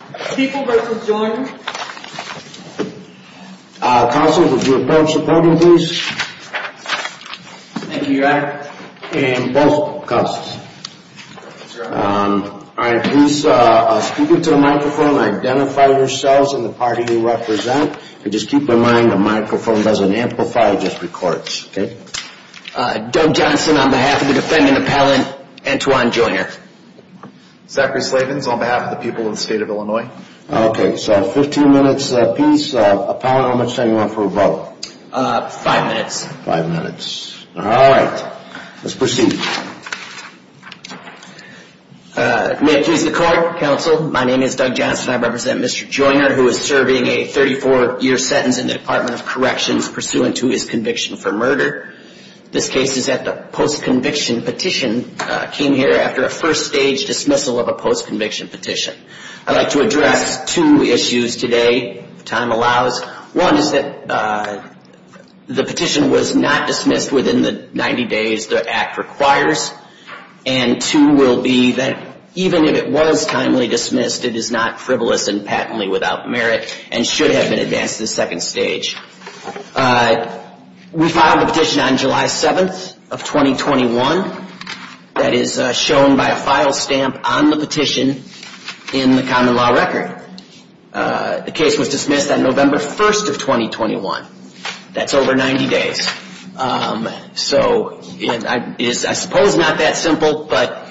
Counsel, would you approach the podium please? Thank you, your honor. And both counsels. Alright, please speak into the microphone and identify yourselves and the party you represent. Just keep in mind the microphone doesn't amplify, it just records. Doug Johnson on behalf of the defendant appellant, Antoine Joiner. Zachary Slavens on behalf of the people of the state of Illinois. Okay, so 15 minutes apiece. Appellant, how much time do you want for a vote? Five minutes. Five minutes. Alright, let's proceed. May it please the court, counsel, my name is Doug Johnson, I represent Mr. Joiner who is serving a 34 year sentence in the Department of Corrections pursuant to his conviction for murder. This case is at the post-conviction petition came here after a first stage dismissal of a post-conviction petition. I'd like to address two issues today, if time allows. One is that the petition was not dismissed within the 90 days the act requires. And two will be that even if it was timely dismissed, it is not frivolous and patently without merit and should have been advanced to the second stage. We filed a petition on July 7th of 2021 that is shown by a file stamp on the petition in the common law record. The case was dismissed on November 1st of 2021. That's over 90 days. So it is, I suppose, not that simple, but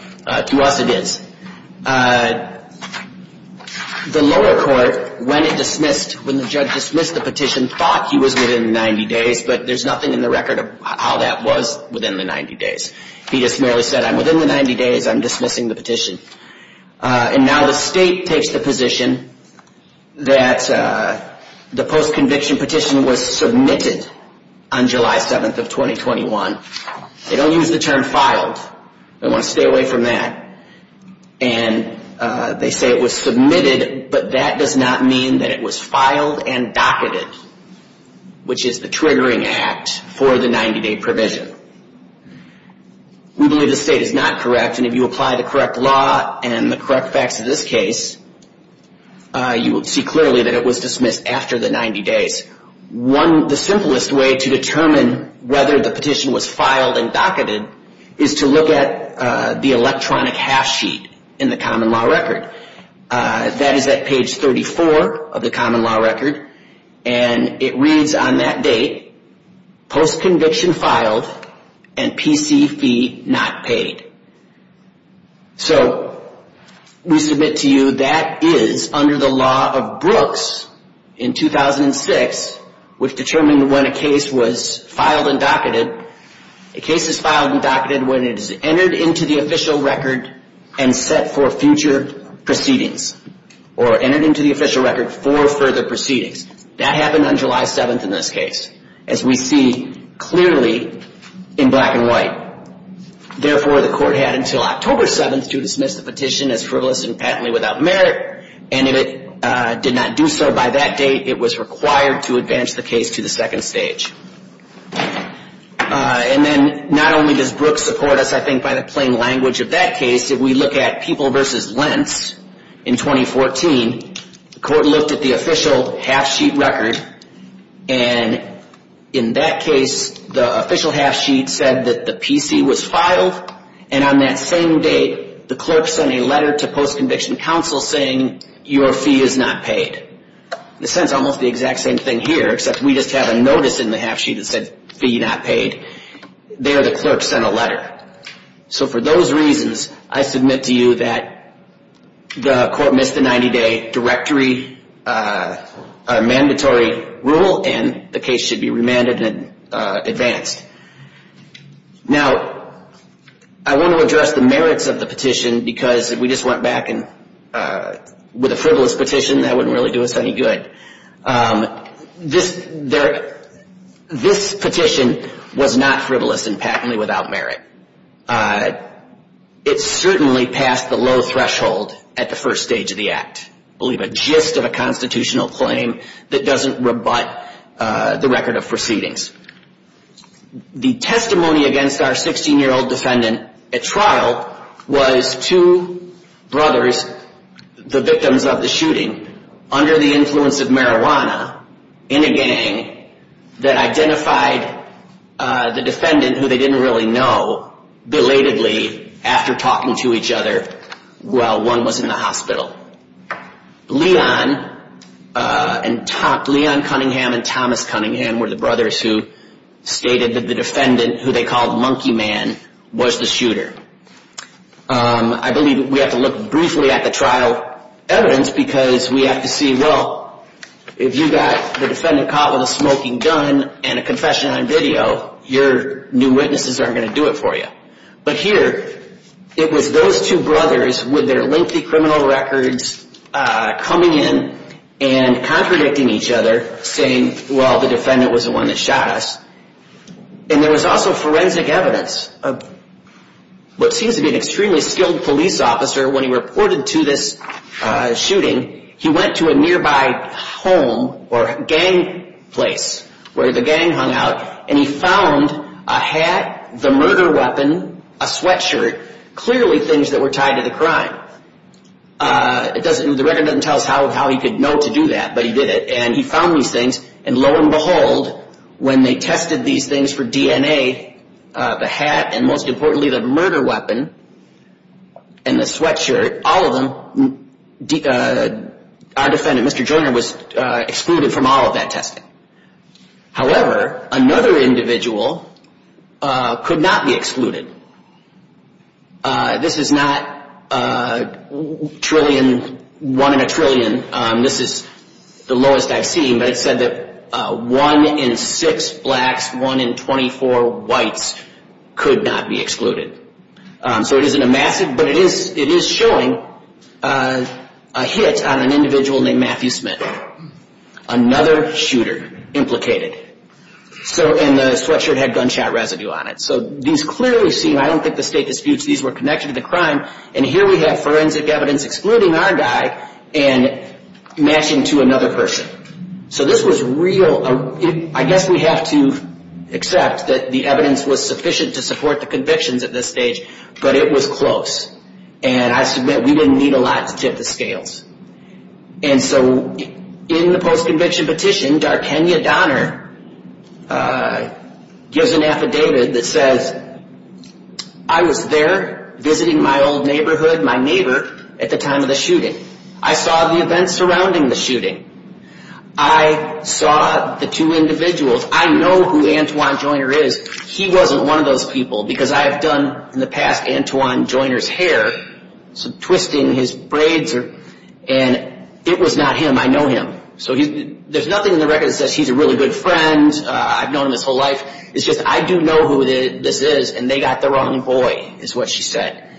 to us it is. The lower court, when it dismissed, when the judge dismissed the petition, thought he was within 90 days, but there's nothing in the record of how that was within the 90 days. He just merely said, I'm within the 90 days, I'm dismissing the petition. And now the state takes the position that the post-conviction petition was submitted on July 7th of 2021. They don't use the term filed. They want to stay away from that. And they say it was submitted, but that does not mean that it was filed and docketed, which is the triggering act for the 90-day provision. We believe the state is not correct, and if you apply the correct law and the correct facts of this case, you will see clearly that it was dismissed after the 90 days. The simplest way to determine whether the petition was filed and docketed is to look at the electronic half-sheet in the common law record. That is at page 34 of the common law record, and it reads on that date, post-conviction filed and PC fee not paid. So we submit to you that is under the law of Brooks in 2006, which determined when a case was filed and docketed. A case is filed and docketed when it is entered into the official record and set for future proceedings, or entered into the official record for further proceedings. That happened on July 7th in this case, as we see clearly in black and white. Therefore, the court had until October 7th to dismiss the petition as frivolous and patently without merit, and if it did not do so by that date, it was required to advance the case to the second stage. And then not only does Brooks support us, I think, by the plain language of that case, if we look at People v. Lentz in 2014, the court looked at the official half-sheet record, and in that case, the official half-sheet said that the PC was filed, and on that same date, the clerk sent a letter to post-conviction counsel saying your fee is not paid. In a sense, almost the exact same thing here, except we just have a notice in the half-sheet that said fee not paid. There, the clerk sent a letter. So for those reasons, I submit to you that the court missed the 90-day mandatory rule, and the case should be remanded and advanced. Now, I want to address the merits of the petition, because if we just went back with a frivolous petition, that wouldn't really do us any good. This petition was not frivolous and patently without merit. It certainly passed the low threshold at the first stage of the act. Believe a gist of a constitutional claim that doesn't rebut the record of proceedings. The testimony against our 16-year-old defendant at trial was two brothers, the victims of the shooting, under the influence of marijuana, in a gang, that identified the defendant, who they didn't really know, belatedly after talking to each other while one was in the hospital. Leon Cunningham and Thomas Cunningham were the brothers who stated that the defendant, who they called Monkey Man, was the shooter. I believe we have to look briefly at the trial evidence, because we have to see, well, if you got the defendant caught with a smoking gun and a confession on video, your new witnesses aren't going to do it for you. But here, it was those two brothers with their lengthy criminal records coming in and contradicting each other, saying, well, the defendant was the one that shot us. And there was also forensic evidence. What seems to be an extremely skilled police officer, when he reported to this shooting, he went to a nearby home or gang place where the gang hung out, and he found a hat, the murder weapon, a sweatshirt, clearly things that were tied to the crime. The record doesn't tell us how he could know to do that, but he did it. And he found these things, and lo and behold, when they tested these things for DNA, the hat and, most importantly, the murder weapon and the sweatshirt, all of them, our defendant, Mr. Joyner, was excluded from all of that testing. However, another individual could not be excluded. This is not one in a trillion. This is the lowest I've seen, but it said that one in six blacks, one in 24 whites, could not be excluded. So it isn't a massive, but it is showing a hit on an individual named Matthew Smith. Another shooter implicated. So, and the sweatshirt had gunshot residue on it. So these clearly seem, I don't think the state disputes these were connected to the crime, and here we have forensic evidence excluding our guy and matching to another person. So this was real, I guess we have to accept that the evidence was sufficient to support the convictions at this stage, but it was close. And I submit we didn't need a lot to tip the scales. And so in the post-conviction petition, Darkenia Donner gives an affidavit that says, I was there visiting my old neighborhood, my neighbor, at the time of the shooting. I saw the events surrounding the shooting. I saw the two individuals. I know who Antoine Joyner is. He wasn't one of those people because I have done, in the past, Antoine Joyner's hair, twisting his braids, and it was not him. I know him. So there's nothing in the record that says he's a really good friend. I've known him his whole life. It's just I do know who this is, and they got the wrong boy, is what she said.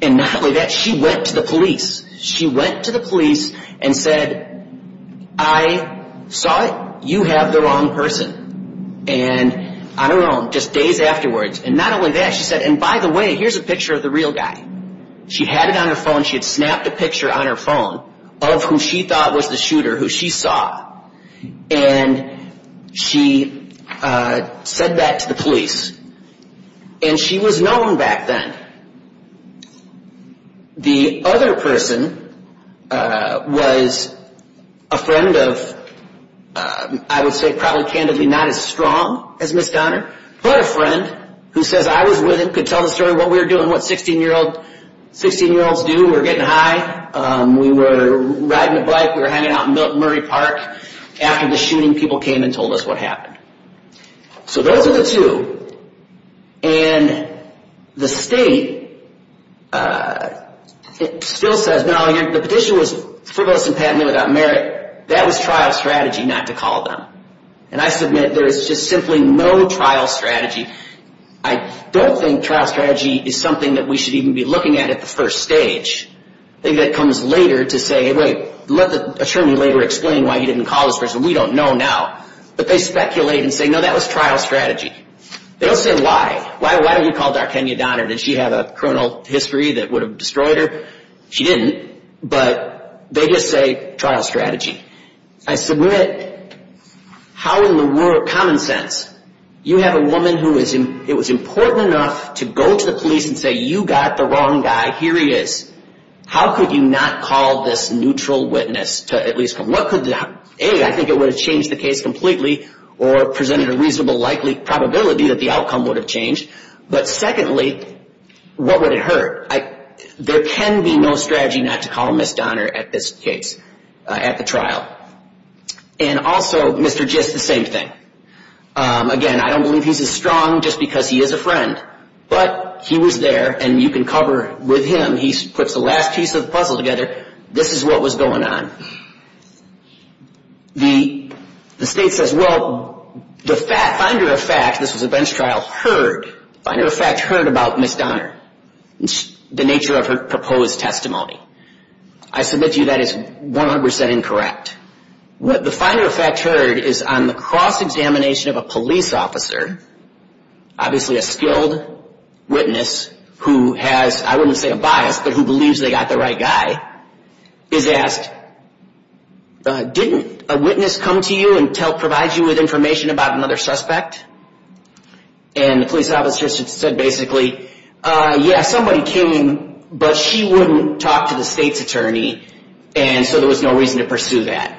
And not only that, she went to the police. She went to the police and said, I saw it. You have the wrong person. And on her own, just days afterwards, and not only that, she said, and by the way, here's a picture of the real guy. She had it on her phone. She had snapped a picture on her phone of who she thought was the shooter, who she saw. And she said that to the police. And she was known back then. The other person was a friend of, I would say probably candidly not as strong as Ms. Donner, but a friend who says I was with him, could tell the story of what we were doing, what 16-year-olds do. We were getting high. We were riding a bike. We were hanging out in Murray Park. After the shooting, people came and told us what happened. So those are the two. And the state still says, no, the petition was frivolous and patently without merit. That was trial strategy not to call them. And I submit there is just simply no trial strategy. I don't think trial strategy is something that we should even be looking at at the first stage. I think that comes later to say, wait, let the attorney later explain why he didn't call this person. We don't know now. But they speculate and say, no, that was trial strategy. They don't say why. Why don't you call Darkenia Donner? Did she have a criminal history that would have destroyed her? She didn't. But they just say trial strategy. I submit how in the world, common sense, you have a woman who it was important enough to go to the police and say, you got the wrong guy. Here he is. How could you not call this neutral witness to at least come? A, I think it would have changed the case completely or presented a reasonable likely probability that the outcome would have changed. But secondly, what would it hurt? There can be no strategy not to call Ms. Donner at this case, at the trial. And also, Mr. Gist, the same thing. Again, I don't believe he's as strong just because he is a friend. But he was there, and you can cover with him. He puts the last piece of the puzzle together. This is what was going on. The state says, well, the finder of fact, this was a bench trial, heard, finder of fact heard about Ms. Donner, the nature of her proposed testimony. I submit to you that is 100% incorrect. The finder of fact heard is on the cross-examination of a police officer, obviously a skilled witness who has, I wouldn't say a bias, but who believes they got the right guy, is asked, didn't a witness come to you and provide you with information about another suspect? And the police officer said basically, yeah, somebody came, but she wouldn't talk to the state's attorney, and so there was no reason to pursue that.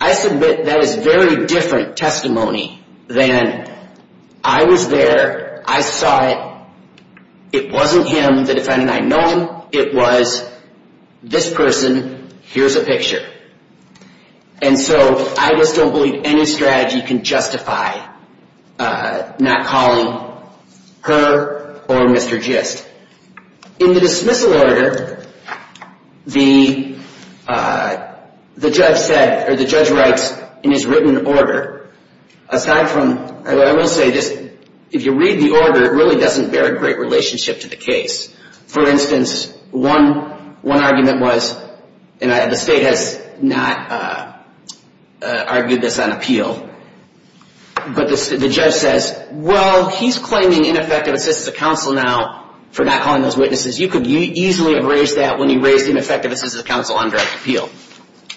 I submit that is very different testimony than, I was there, I saw it, it wasn't him, the defendant I know, it was this person, here's a picture. And so I just don't believe any strategy can justify not calling her or Mr. Gist. In the dismissal order, the judge said, or the judge writes in his written order, aside from, I will say this, if you read the order, it really doesn't bear a great relationship to the case. For instance, one argument was, and the state has not argued this on appeal, but the judge says, well, he's claiming ineffective assistance of counsel now for not calling those witnesses. You could easily have raised that when you raised ineffective assistance of counsel on direct appeal.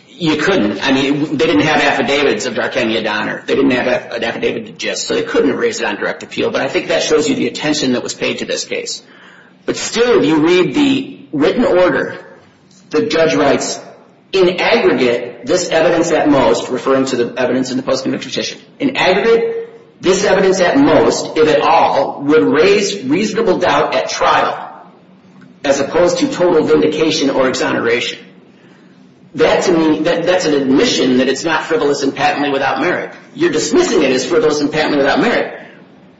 You couldn't. I mean, they didn't have affidavits of Darkenia Donner. They didn't have an affidavit to Gist, so they couldn't have raised it on direct appeal, but I think that shows you the attention that was paid to this case. But still, if you read the written order, the judge writes, in aggregate, this evidence at most, referring to the evidence in the post-convict petition, in aggregate, this evidence at most, if at all, would raise reasonable doubt at trial as opposed to total vindication or exoneration. That's an admission that it's not frivolous and patently without merit. You're dismissing it as frivolous and patently without merit.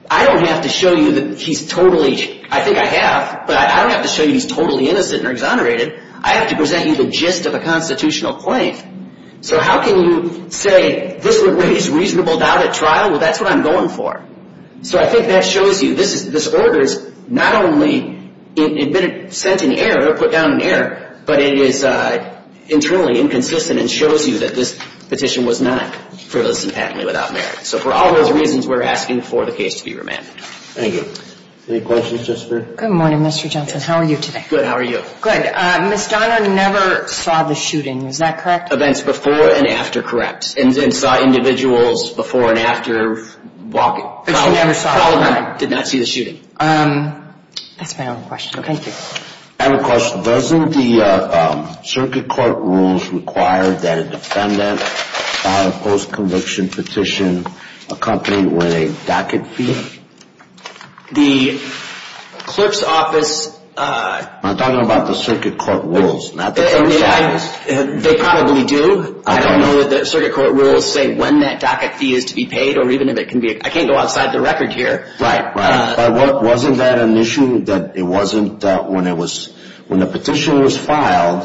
I don't have to show you that he's totally, I think I have, but I don't have to show you he's totally innocent or exonerated. I have to present you the gist of a constitutional claim. So how can you say this would raise reasonable doubt at trial? Well, that's what I'm going for. So I think that shows you this order is not only sent in error or put down in error, but it is internally inconsistent and shows you that this petition was not frivolous and patently without merit. So for all those reasons, we're asking for the case to be remanded. Thank you. Any questions, Jessica? Good morning, Mr. Johnson. How are you today? Good. How are you? Good. Ms. Donner never saw the shooting. Is that correct? Events before and after, correct. And saw individuals before and after walking. But she never saw the shooting? Did not see the shooting. That's my only question. Thank you. I have a question. Doesn't the circuit court rules require that a defendant file a post-conviction petition accompanied with a docket fee? The clerk's office – I'm talking about the circuit court rules, not the clerk's office. They probably do. I don't know that the circuit court rules say when that docket fee is to be paid or even if it can be – I can't go outside the record here. Right, right. But wasn't that an issue that it wasn't when it was – when the petition was filed,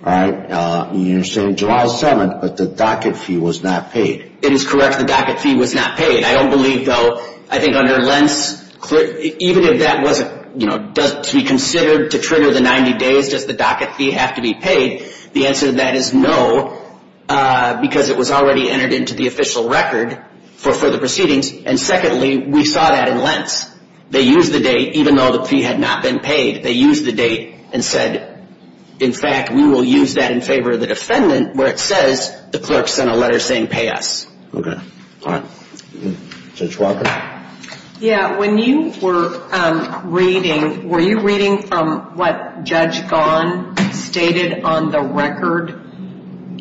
right, you're saying July 7th, but the docket fee was not paid? It is correct. The docket fee was not paid. I don't believe, though. I think under Lentz, even if that wasn't, you know, to be considered to trigger the 90 days, does the docket fee have to be paid? The answer to that is no because it was already entered into the official record for the proceedings. And secondly, we saw that in Lentz. They used the date even though the fee had not been paid. They used the date and said, in fact, we will use that in favor of the defendant where it says the clerk sent a letter saying pay us. Okay. All right. Judge Walker? Yeah, when you were reading, were you reading from what Judge Gahn stated on the record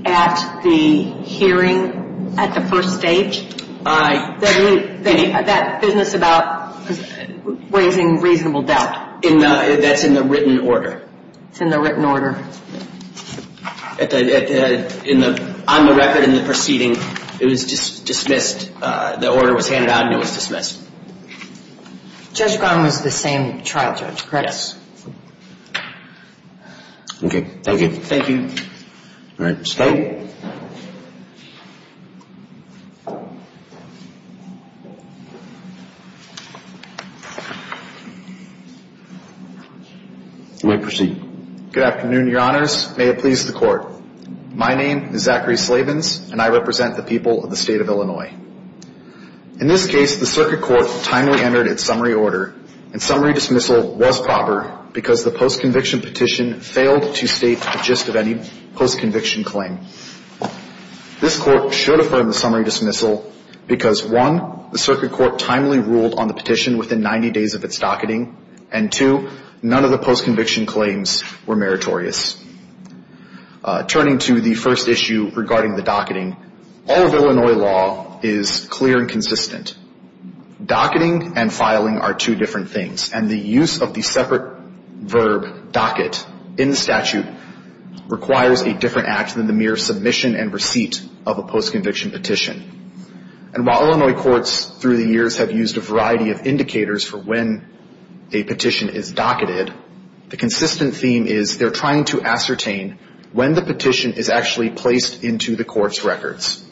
at the hearing at the first stage? That business about raising reasonable doubt. That's in the written order. It's in the written order. On the record in the proceeding, it was dismissed. The order was handed out and it was dismissed. Judge Gahn was the same trial judge, correct? Yes. Okay. Thank you. Thank you. All right. Scott? You may proceed. Good afternoon, Your Honors. May it please the Court. My name is Zachary Slavens, and I represent the people of the State of Illinois. In this case, the Circuit Court timely entered its summary order, and summary dismissal was proper because the postconviction petition failed to state the gist of any postconviction claim. This Court should affirm the summary dismissal because, one, the Circuit Court timely ruled on the petition within 90 days of its docketing, and, two, none of the postconviction claims were meritorious. Turning to the first issue regarding the docketing, all of Illinois law is clear and consistent. Docketing and filing are two different things, and the use of the separate verb docket in the statute requires a different act than the mere submission and receipt of a postconviction petition. And while Illinois courts through the years have used a variety of indicators for when a petition is docketed, the consistent theme is they're trying to ascertain when the petition is actually placed into the court's records.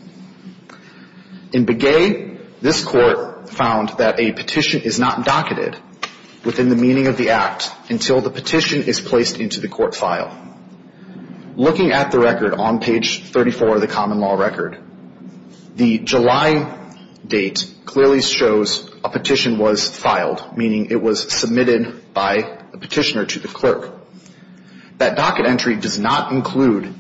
In Begay, this court found that a petition is not docketed within the meaning of the act until the petition is placed into the court file. Looking at the record on page 34 of the common law record, the July date clearly shows a petition was filed, meaning it was submitted by a petitioner to the clerk. That docket entry does not include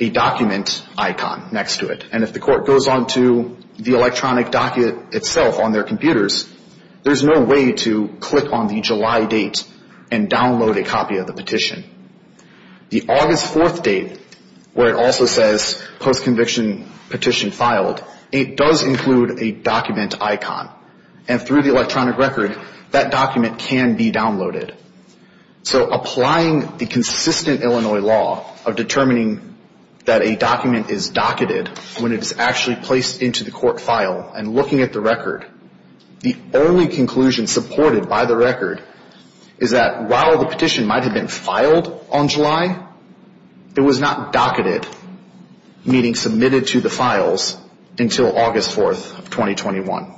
a document icon next to it, and if the court goes on to the electronic docket itself on their computers, there's no way to click on the July date and download a copy of the petition. The August 4th date, where it also says postconviction petition filed, it does include a document icon, and through the electronic record, that document can be downloaded. So applying the consistent Illinois law of determining that a document is docketed when it is actually placed into the court file and looking at the record, the only conclusion supported by the record is that while the petition might have been filed on July, it was not docketed, meaning submitted to the files, until August 4th of 2021.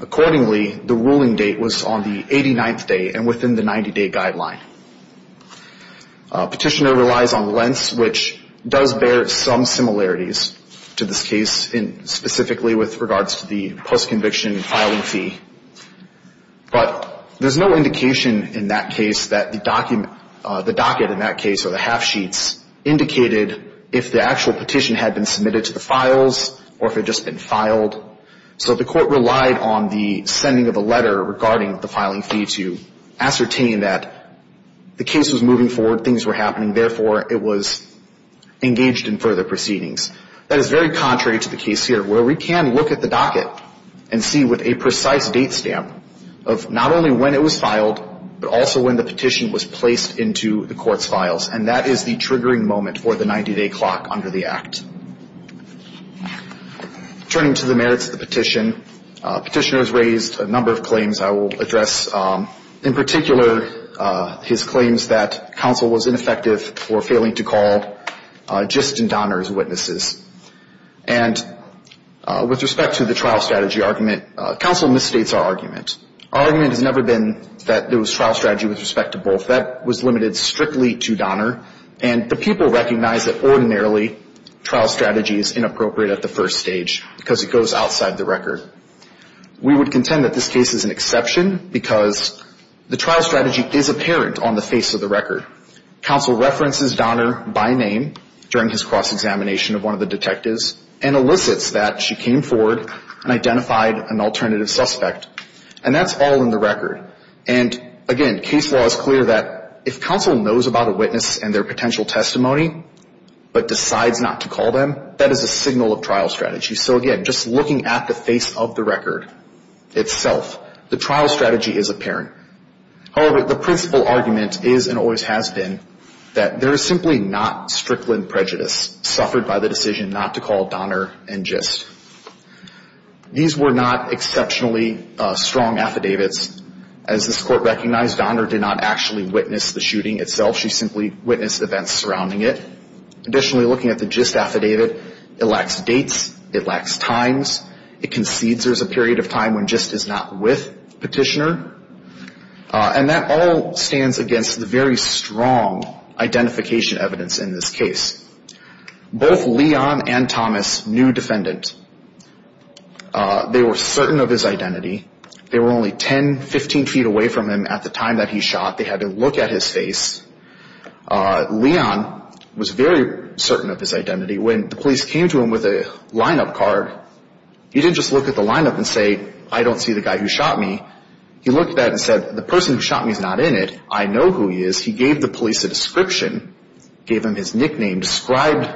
Accordingly, the ruling date was on the 89th day and within the 90-day guideline. Petitioner relies on lengths, which does bear some similarities to this case, specifically with regards to the postconviction filing fee. But there's no indication in that case that the docket in that case, or the half sheets, indicated if the actual petition had been submitted to the files or if it had just been filed. So the court relied on the sending of a letter regarding the filing fee to ascertain that the case was moving forward, things were happening, therefore it was engaged in further proceedings. That is very contrary to the case here, where we can look at the docket and see with a precise date stamp of not only when it was filed, but also when the petition was placed into the court's files. And that is the triggering moment for the 90-day clock under the Act. Turning to the merits of the petition, petitioner has raised a number of claims I will address. In particular, his claims that counsel was ineffective or failing to call just in Donner as witnesses. And with respect to the trial strategy argument, counsel misstates our argument. Our argument has never been that there was trial strategy with respect to both. That was limited strictly to Donner. And the people recognize that ordinarily trial strategy is inappropriate at the first stage because it goes outside the record. We would contend that this case is an exception because the trial strategy is apparent on the face of the record. Counsel references Donner by name during his cross-examination of one of the detectives and elicits that she came forward and identified an alternative suspect. And that's all in the record. And, again, case law is clear that if counsel knows about a witness and their potential testimony but decides not to call them, that is a signal of trial strategy. So, again, just looking at the face of the record itself, the trial strategy is apparent. However, the principal argument is and always has been that there is simply not strickland prejudice suffered by the decision not to call Donner and Gist. These were not exceptionally strong affidavits. As this court recognized, Donner did not actually witness the shooting itself. She simply witnessed events surrounding it. Additionally, looking at the Gist affidavit, it lacks dates. It lacks times. It concedes there's a period of time when Gist is not with Petitioner. And that all stands against the very strong identification evidence in this case. Both Leon and Thomas knew Defendant. They were certain of his identity. They were only 10, 15 feet away from him at the time that he shot. They had to look at his face. Leon was very certain of his identity. When the police came to him with a lineup card, he didn't just look at the lineup and say, I don't see the guy who shot me. He looked at that and said, the person who shot me is not in it. I know who he is. He gave the police a description, gave them his nickname, described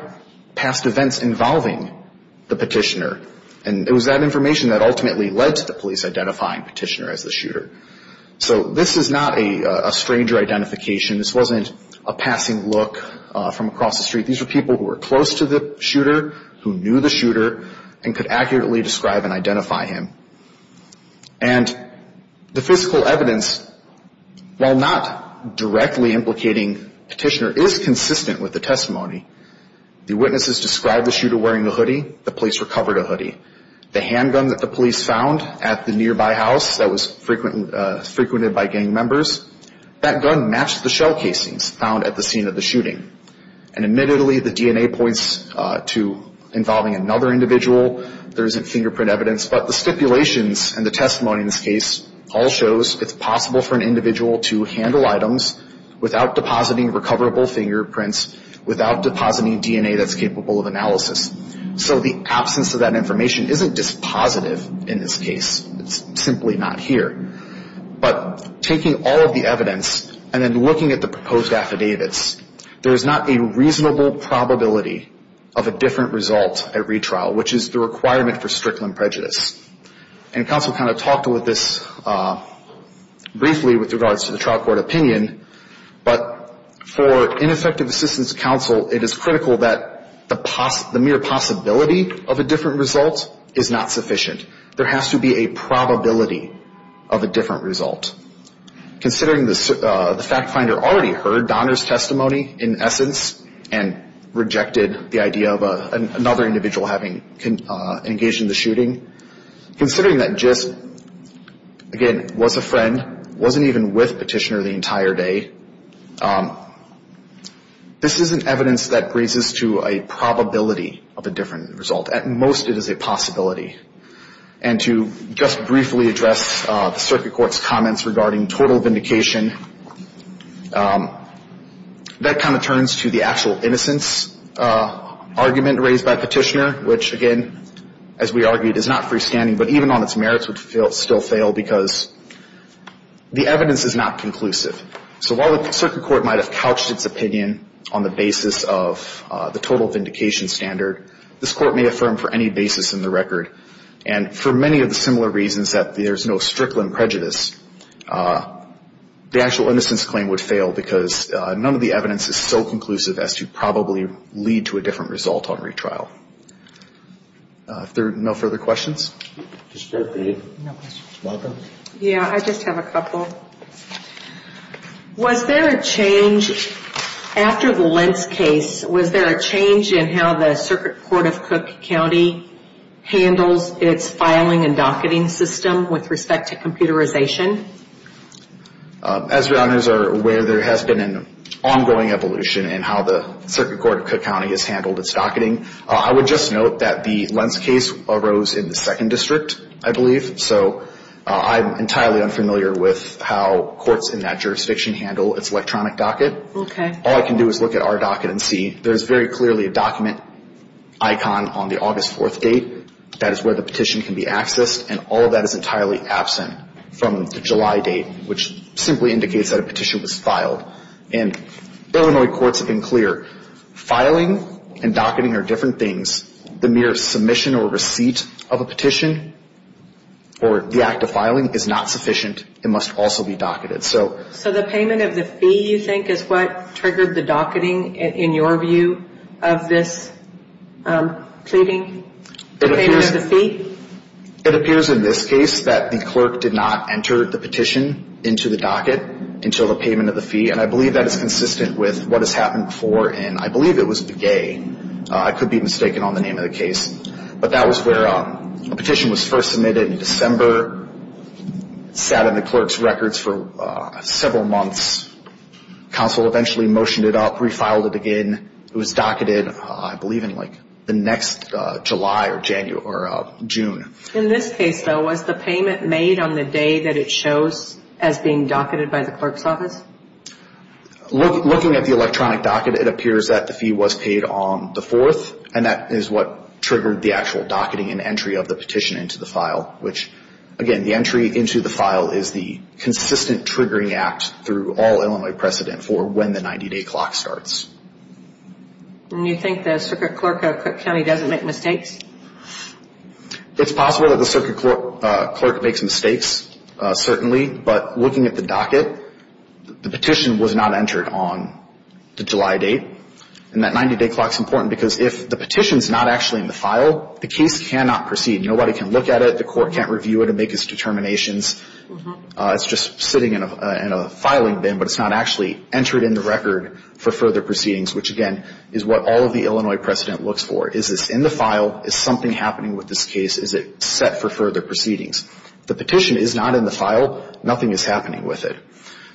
past events involving the Petitioner. And it was that information that ultimately led to the police identifying Petitioner as the shooter. So this is not a stranger identification. This wasn't a passing look from across the street. These were people who were close to the shooter, who knew the shooter, and could accurately describe and identify him. And the physical evidence, while not directly implicating Petitioner, is consistent with the testimony. The witnesses described the shooter wearing a hoodie. The police recovered a hoodie. The handgun that the police found at the nearby house that was frequented by gang members, that gun matched the shell casings found at the scene of the shooting. And admittedly, the DNA points to involving another individual. There isn't fingerprint evidence. But the stipulations and the testimony in this case all shows it's possible for an individual to handle items without depositing recoverable fingerprints, without depositing DNA that's capable of analysis. So the absence of that information isn't dispositive in this case. It's simply not here. But taking all of the evidence and then looking at the proposed affidavits, there is not a reasonable probability of a different result at retrial, which is the requirement for strictly prejudice. And counsel kind of talked with this briefly with regards to the trial court opinion. But for ineffective assistance counsel, it is critical that the mere possibility of a different result is not sufficient. There has to be a probability of a different result. Considering the fact finder already heard Donner's testimony in essence and rejected the idea of another individual having engaged in the shooting, considering that just, again, was a friend, wasn't even with Petitioner the entire day, this isn't evidence that raises to a probability of a different result. At most, it is a possibility. And to just briefly address the circuit court's comments regarding total vindication, that kind of turns to the actual innocence argument raised by Petitioner, which, again, as we argued, is not freestanding, but even on its merits would still fail because the evidence is not conclusive. So while the circuit court might have couched its opinion on the basis of the total vindication standard, this court may affirm for any basis in the record. And for many of the similar reasons that there's no strictly prejudice, the actual innocence claim would fail because none of the evidence is so conclusive as to probably lead to a different result on retrial. If there are no further questions. Just a quick one. Yeah, I just have a couple. Was there a change after the Lentz case, was there a change in how the circuit court of Cook County handles its filing and docketing system with respect to computerization? As your honors are aware, there has been an ongoing evolution in how the circuit court of Cook County has handled its docketing. I would just note that the Lentz case arose in the second district, I believe. So I'm entirely unfamiliar with how courts in that jurisdiction handle its electronic docket. All I can do is look at our docket and see there's very clearly a document icon on the August 4th date. That is where the petition can be accessed. And all of that is entirely absent from the July date, which simply indicates that a petition was filed. And Illinois courts have been clear. Filing and docketing are different things. The mere submission or receipt of a petition or the act of filing is not sufficient. It must also be docketed. So the payment of the fee, you think, is what triggered the docketing, in your view, of this pleading? The payment of the fee? It appears in this case that the clerk did not enter the petition into the docket until the payment of the fee. And I believe that is consistent with what has happened before in, I believe it was Begay. I could be mistaken on the name of the case. But that was where a petition was first submitted in December, sat in the clerk's records for several months. Counsel eventually motioned it up, refiled it again. It was docketed, I believe, in the next July or June. In this case, though, was the payment made on the day that it shows as being docketed by the clerk's office? Looking at the electronic docket, it appears that the fee was paid on the 4th, and that is what triggered the actual docketing and entry of the petition into the file, which, again, the entry into the file is the consistent triggering act through all Illinois precedent for when the 90-day clock starts. And you think the circuit clerk at Cook County doesn't make mistakes? It's possible that the circuit clerk makes mistakes, certainly. But looking at the docket, the petition was not entered on the July date. And that 90-day clock is important because if the petition is not actually in the file, the case cannot proceed. Nobody can look at it. The court can't review it and make its determinations. It's just sitting in a filing bin, but it's not actually entered in the record for further proceedings, which, again, is what all of the Illinois precedent looks for. Is this in the file? Is something happening with this case? Is it set for further proceedings? The petition is not in the file. Nothing is happening with it.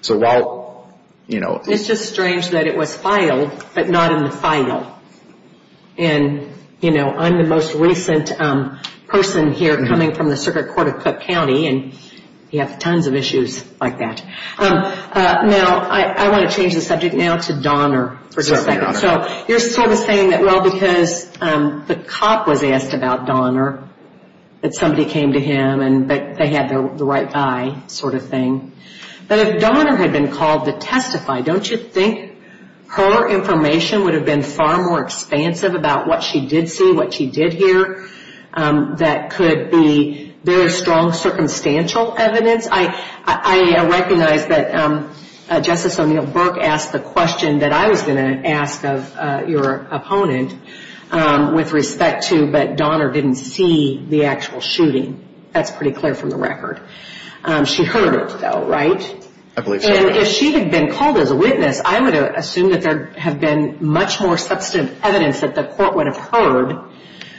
It's just strange that it was filed, but not in the file. And, you know, I'm the most recent person here coming from the Circuit Court of Cook County, and you have tons of issues like that. Now, I want to change the subject now to Donner for just a second. Certainly, Your Honor. You're sort of saying that, well, because the cop was asked about Donner, that somebody came to him, but they had the right eye sort of thing. But if Donner had been called to testify, don't you think her information would have been far more expansive about what she did see, what she did hear, that could be very strong circumstantial evidence? I recognize that Justice O'Neill Burke asked the question that I was going to ask of your opponent with respect to, but Donner didn't see the actual shooting. That's pretty clear from the record. She heard it, though, right? I believe so. And if she had been called as a witness, I would assume that there have been much more substantive evidence that the court would have heard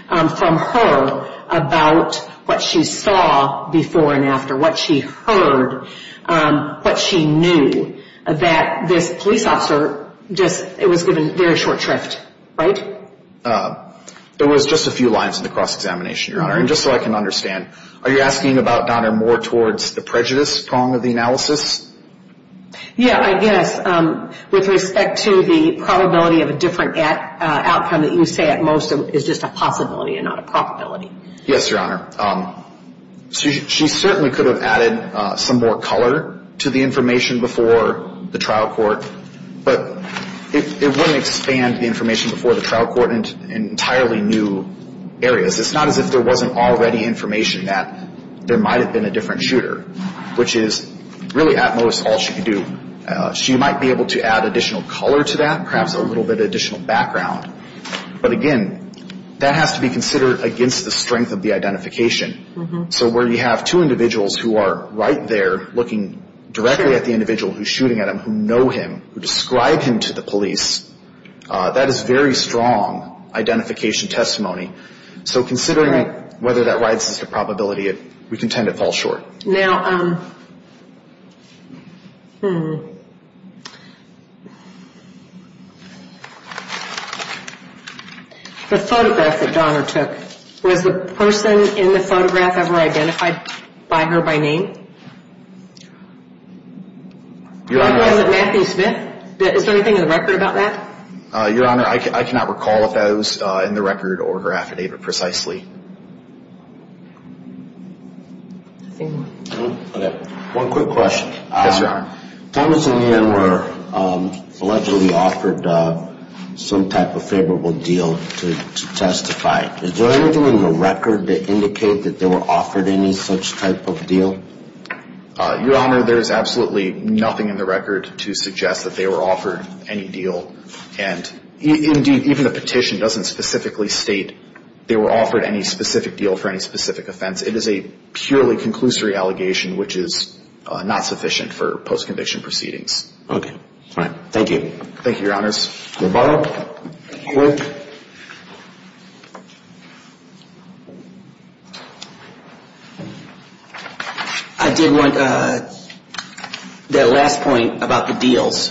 from her about what she saw before and after, what she heard, what she knew, that this police officer just, it was a very short drift, right? There was just a few lines in the cross-examination, Your Honor. And just so I can understand, are you asking about Donner more towards the prejudice prong of the analysis? Yeah, I guess. With respect to the probability of a different outcome that you say at most is just a possibility and not a probability. Yes, Your Honor. She certainly could have added some more color to the information before the trial court, but it wouldn't expand the information before the trial court in entirely new areas. Because it's not as if there wasn't already information that there might have been a different shooter, which is really at most all she could do. She might be able to add additional color to that, perhaps a little bit of additional background. But again, that has to be considered against the strength of the identification. So where you have two individuals who are right there looking directly at the individual who's shooting at him, who know him, who describe him to the police, that is very strong identification testimony. So considering whether that rises to probability, we contend it falls short. Now, the photograph that Donner took, was the person in the photograph ever identified by her by name? Your Honor. Was it Matthew Smith? Is there anything in the record about that? Your Honor, I cannot recall if that was in the record or her affidavit precisely. Okay. One quick question. Yes, Your Honor. Thomas and Yan were allegedly offered some type of favorable deal to testify. Your Honor, there is absolutely nothing in the record to suggest that they were offered any deal. And indeed, even the petition doesn't specifically state they were offered any specific deal for any specific offense. It is a purely conclusory allegation, which is not sufficient for post-conviction proceedings. Okay. Fine. Thank you. Thank you, Your Honors. Your Honor. I did want that last point about the deals.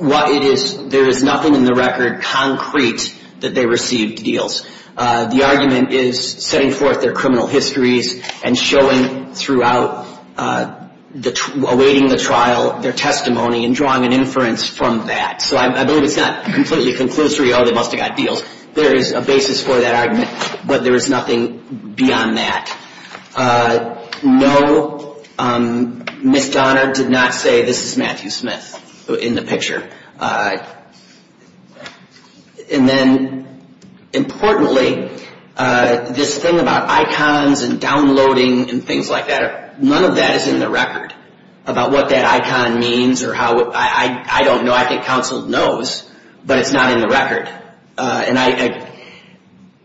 There is nothing in the record concrete that they received deals. The argument is setting forth their criminal histories and showing throughout, awaiting the trial, their testimony and drawing an inference from that. So I believe it's not completely conclusory, oh, they must have got deals. There is a basis for that argument, but there is nothing beyond that. No, Ms. Donner did not say this is Matthew Smith in the picture. And then, importantly, this thing about icons and downloading and things like that, none of that is in the record about what that icon means or how, I don't know. I think counsel knows, but it's not in the record.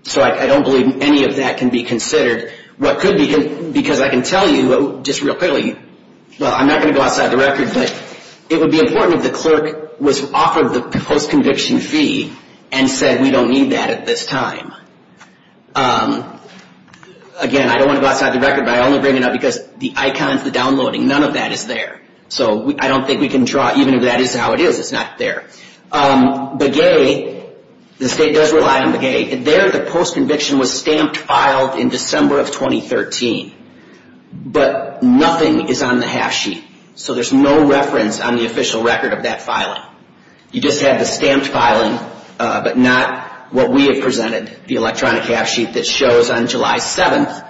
So I don't believe any of that can be considered. Because I can tell you just real clearly, well, I'm not going to go outside the record, but it would be important if the clerk was offered the post-conviction fee and said, we don't need that at this time. Again, I don't want to go outside the record, but I only bring it up because the icons, the downloading, none of that is there. So I don't think we can draw, even if that is how it is, it's not there. Begay, the state does rely on Begay. There the post-conviction was stamped, filed in December of 2013. But nothing is on the half sheet. So there's no reference on the official record of that filing. You just have the stamped filing, but not what we have presented, the electronic half sheet that shows on July 7th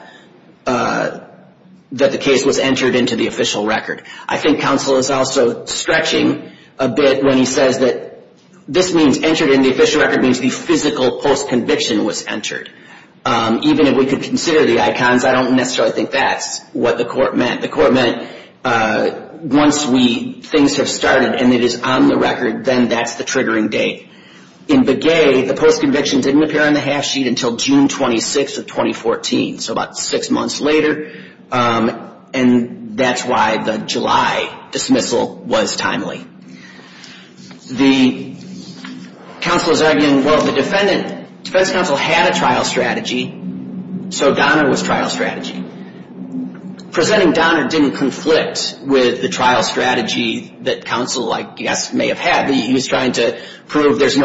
that the case was entered into the official record. I think counsel is also stretching a bit when he says that this means entered in the official record means the physical post-conviction was entered. Even if we could consider the icons, I don't necessarily think that's what the court meant. The court meant once we, things have started and it is on the record, then that's the triggering date. In Begay, the post-conviction didn't appear on the half sheet until June 26th of 2014. So about six months later. And that's why the July dismissal was timely. The counsel is arguing, well, the defendant, defense counsel had a trial strategy, so Donna was trial strategy. Presenting Donna didn't conflict with the trial strategy that counsel, I guess, may have had. He was trying to prove there's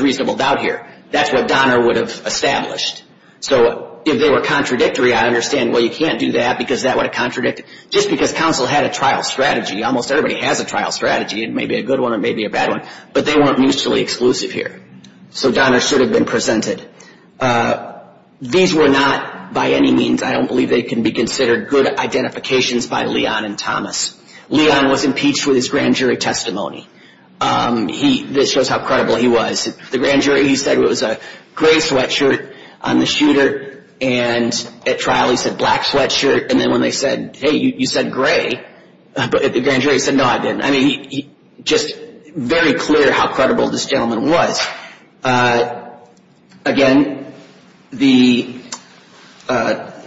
reasonable doubt here. That's what Donna would have established. So if they were contradictory, I understand, well, you can't do that because that would have contradicted, just because counsel had a trial strategy. Almost everybody has a trial strategy. It may be a good one, it may be a bad one. But they weren't mutually exclusive here. So Donna should have been presented. These were not, by any means, I don't believe they can be considered good identifications by Leon and Thomas. Leon was impeached with his grand jury testimony. This shows how credible he was. The grand jury, he said it was a gray sweatshirt on the shooter, and at trial he said black sweatshirt. And then when they said, hey, you said gray, the grand jury said, no, I didn't. I mean, just very clear how credible this gentleman was. Again, the,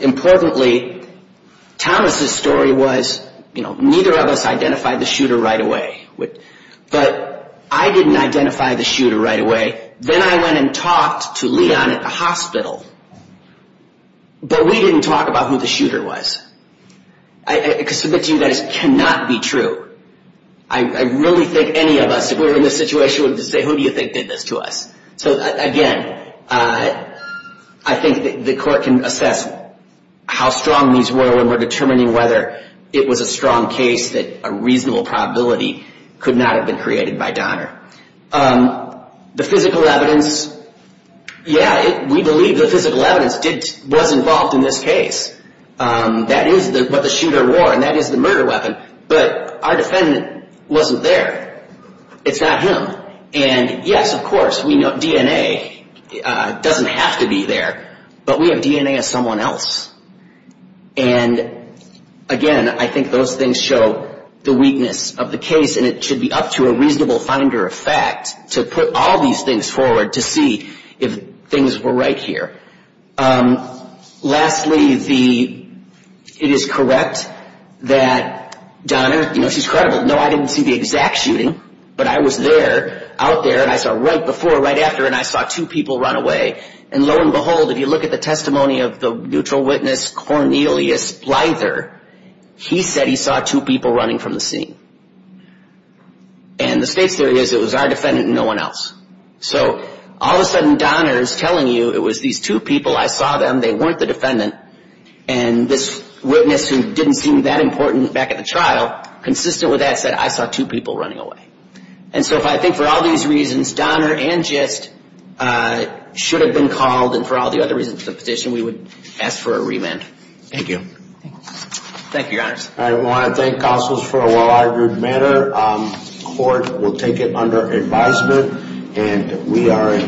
importantly, Thomas' story was, you know, neither of us identified the shooter right away. But I didn't identify the shooter right away. Then I went and talked to Leon at the hospital. But we didn't talk about who the shooter was. I submit to you guys, it cannot be true. I really think any of us, if we were in this situation, would say, who do you think did this to us? So, again, I think the court can assess how strong these were when we're determining whether it was a strong case that a reasonable probability could not have been created by Donner. The physical evidence, yeah, we believe the physical evidence was involved in this case. That is what the shooter wore, and that is the murder weapon. But our defendant wasn't there. It's not him. And, yes, of course, we know DNA doesn't have to be there, but we have DNA of someone else. And, again, I think those things show the weakness of the case, and it should be up to a reasonable finder of fact to put all these things forward to see if things were right here. Lastly, it is correct that Donner, you know, she's credible. No, I didn't see the exact shooting, but I was there, out there, and I saw right before, right after, and I saw two people run away. And, lo and behold, if you look at the testimony of the neutral witness, Cornelius Blyther, he said he saw two people running from the scene. And the state's theory is it was our defendant and no one else. So, all of a sudden, Donner is telling you it was these two people, I saw them, they weren't the defendant, and this witness who didn't seem that important back at the trial, consistent with that, said, I saw two people running away. And so I think for all these reasons, Donner and Gist should have been called, and for all the other reasons of the petition, we would ask for a remand. Thank you. Thank you, Your Honors. I want to thank counsels for a well-argued matter. Court will take it under advisement. And we are in.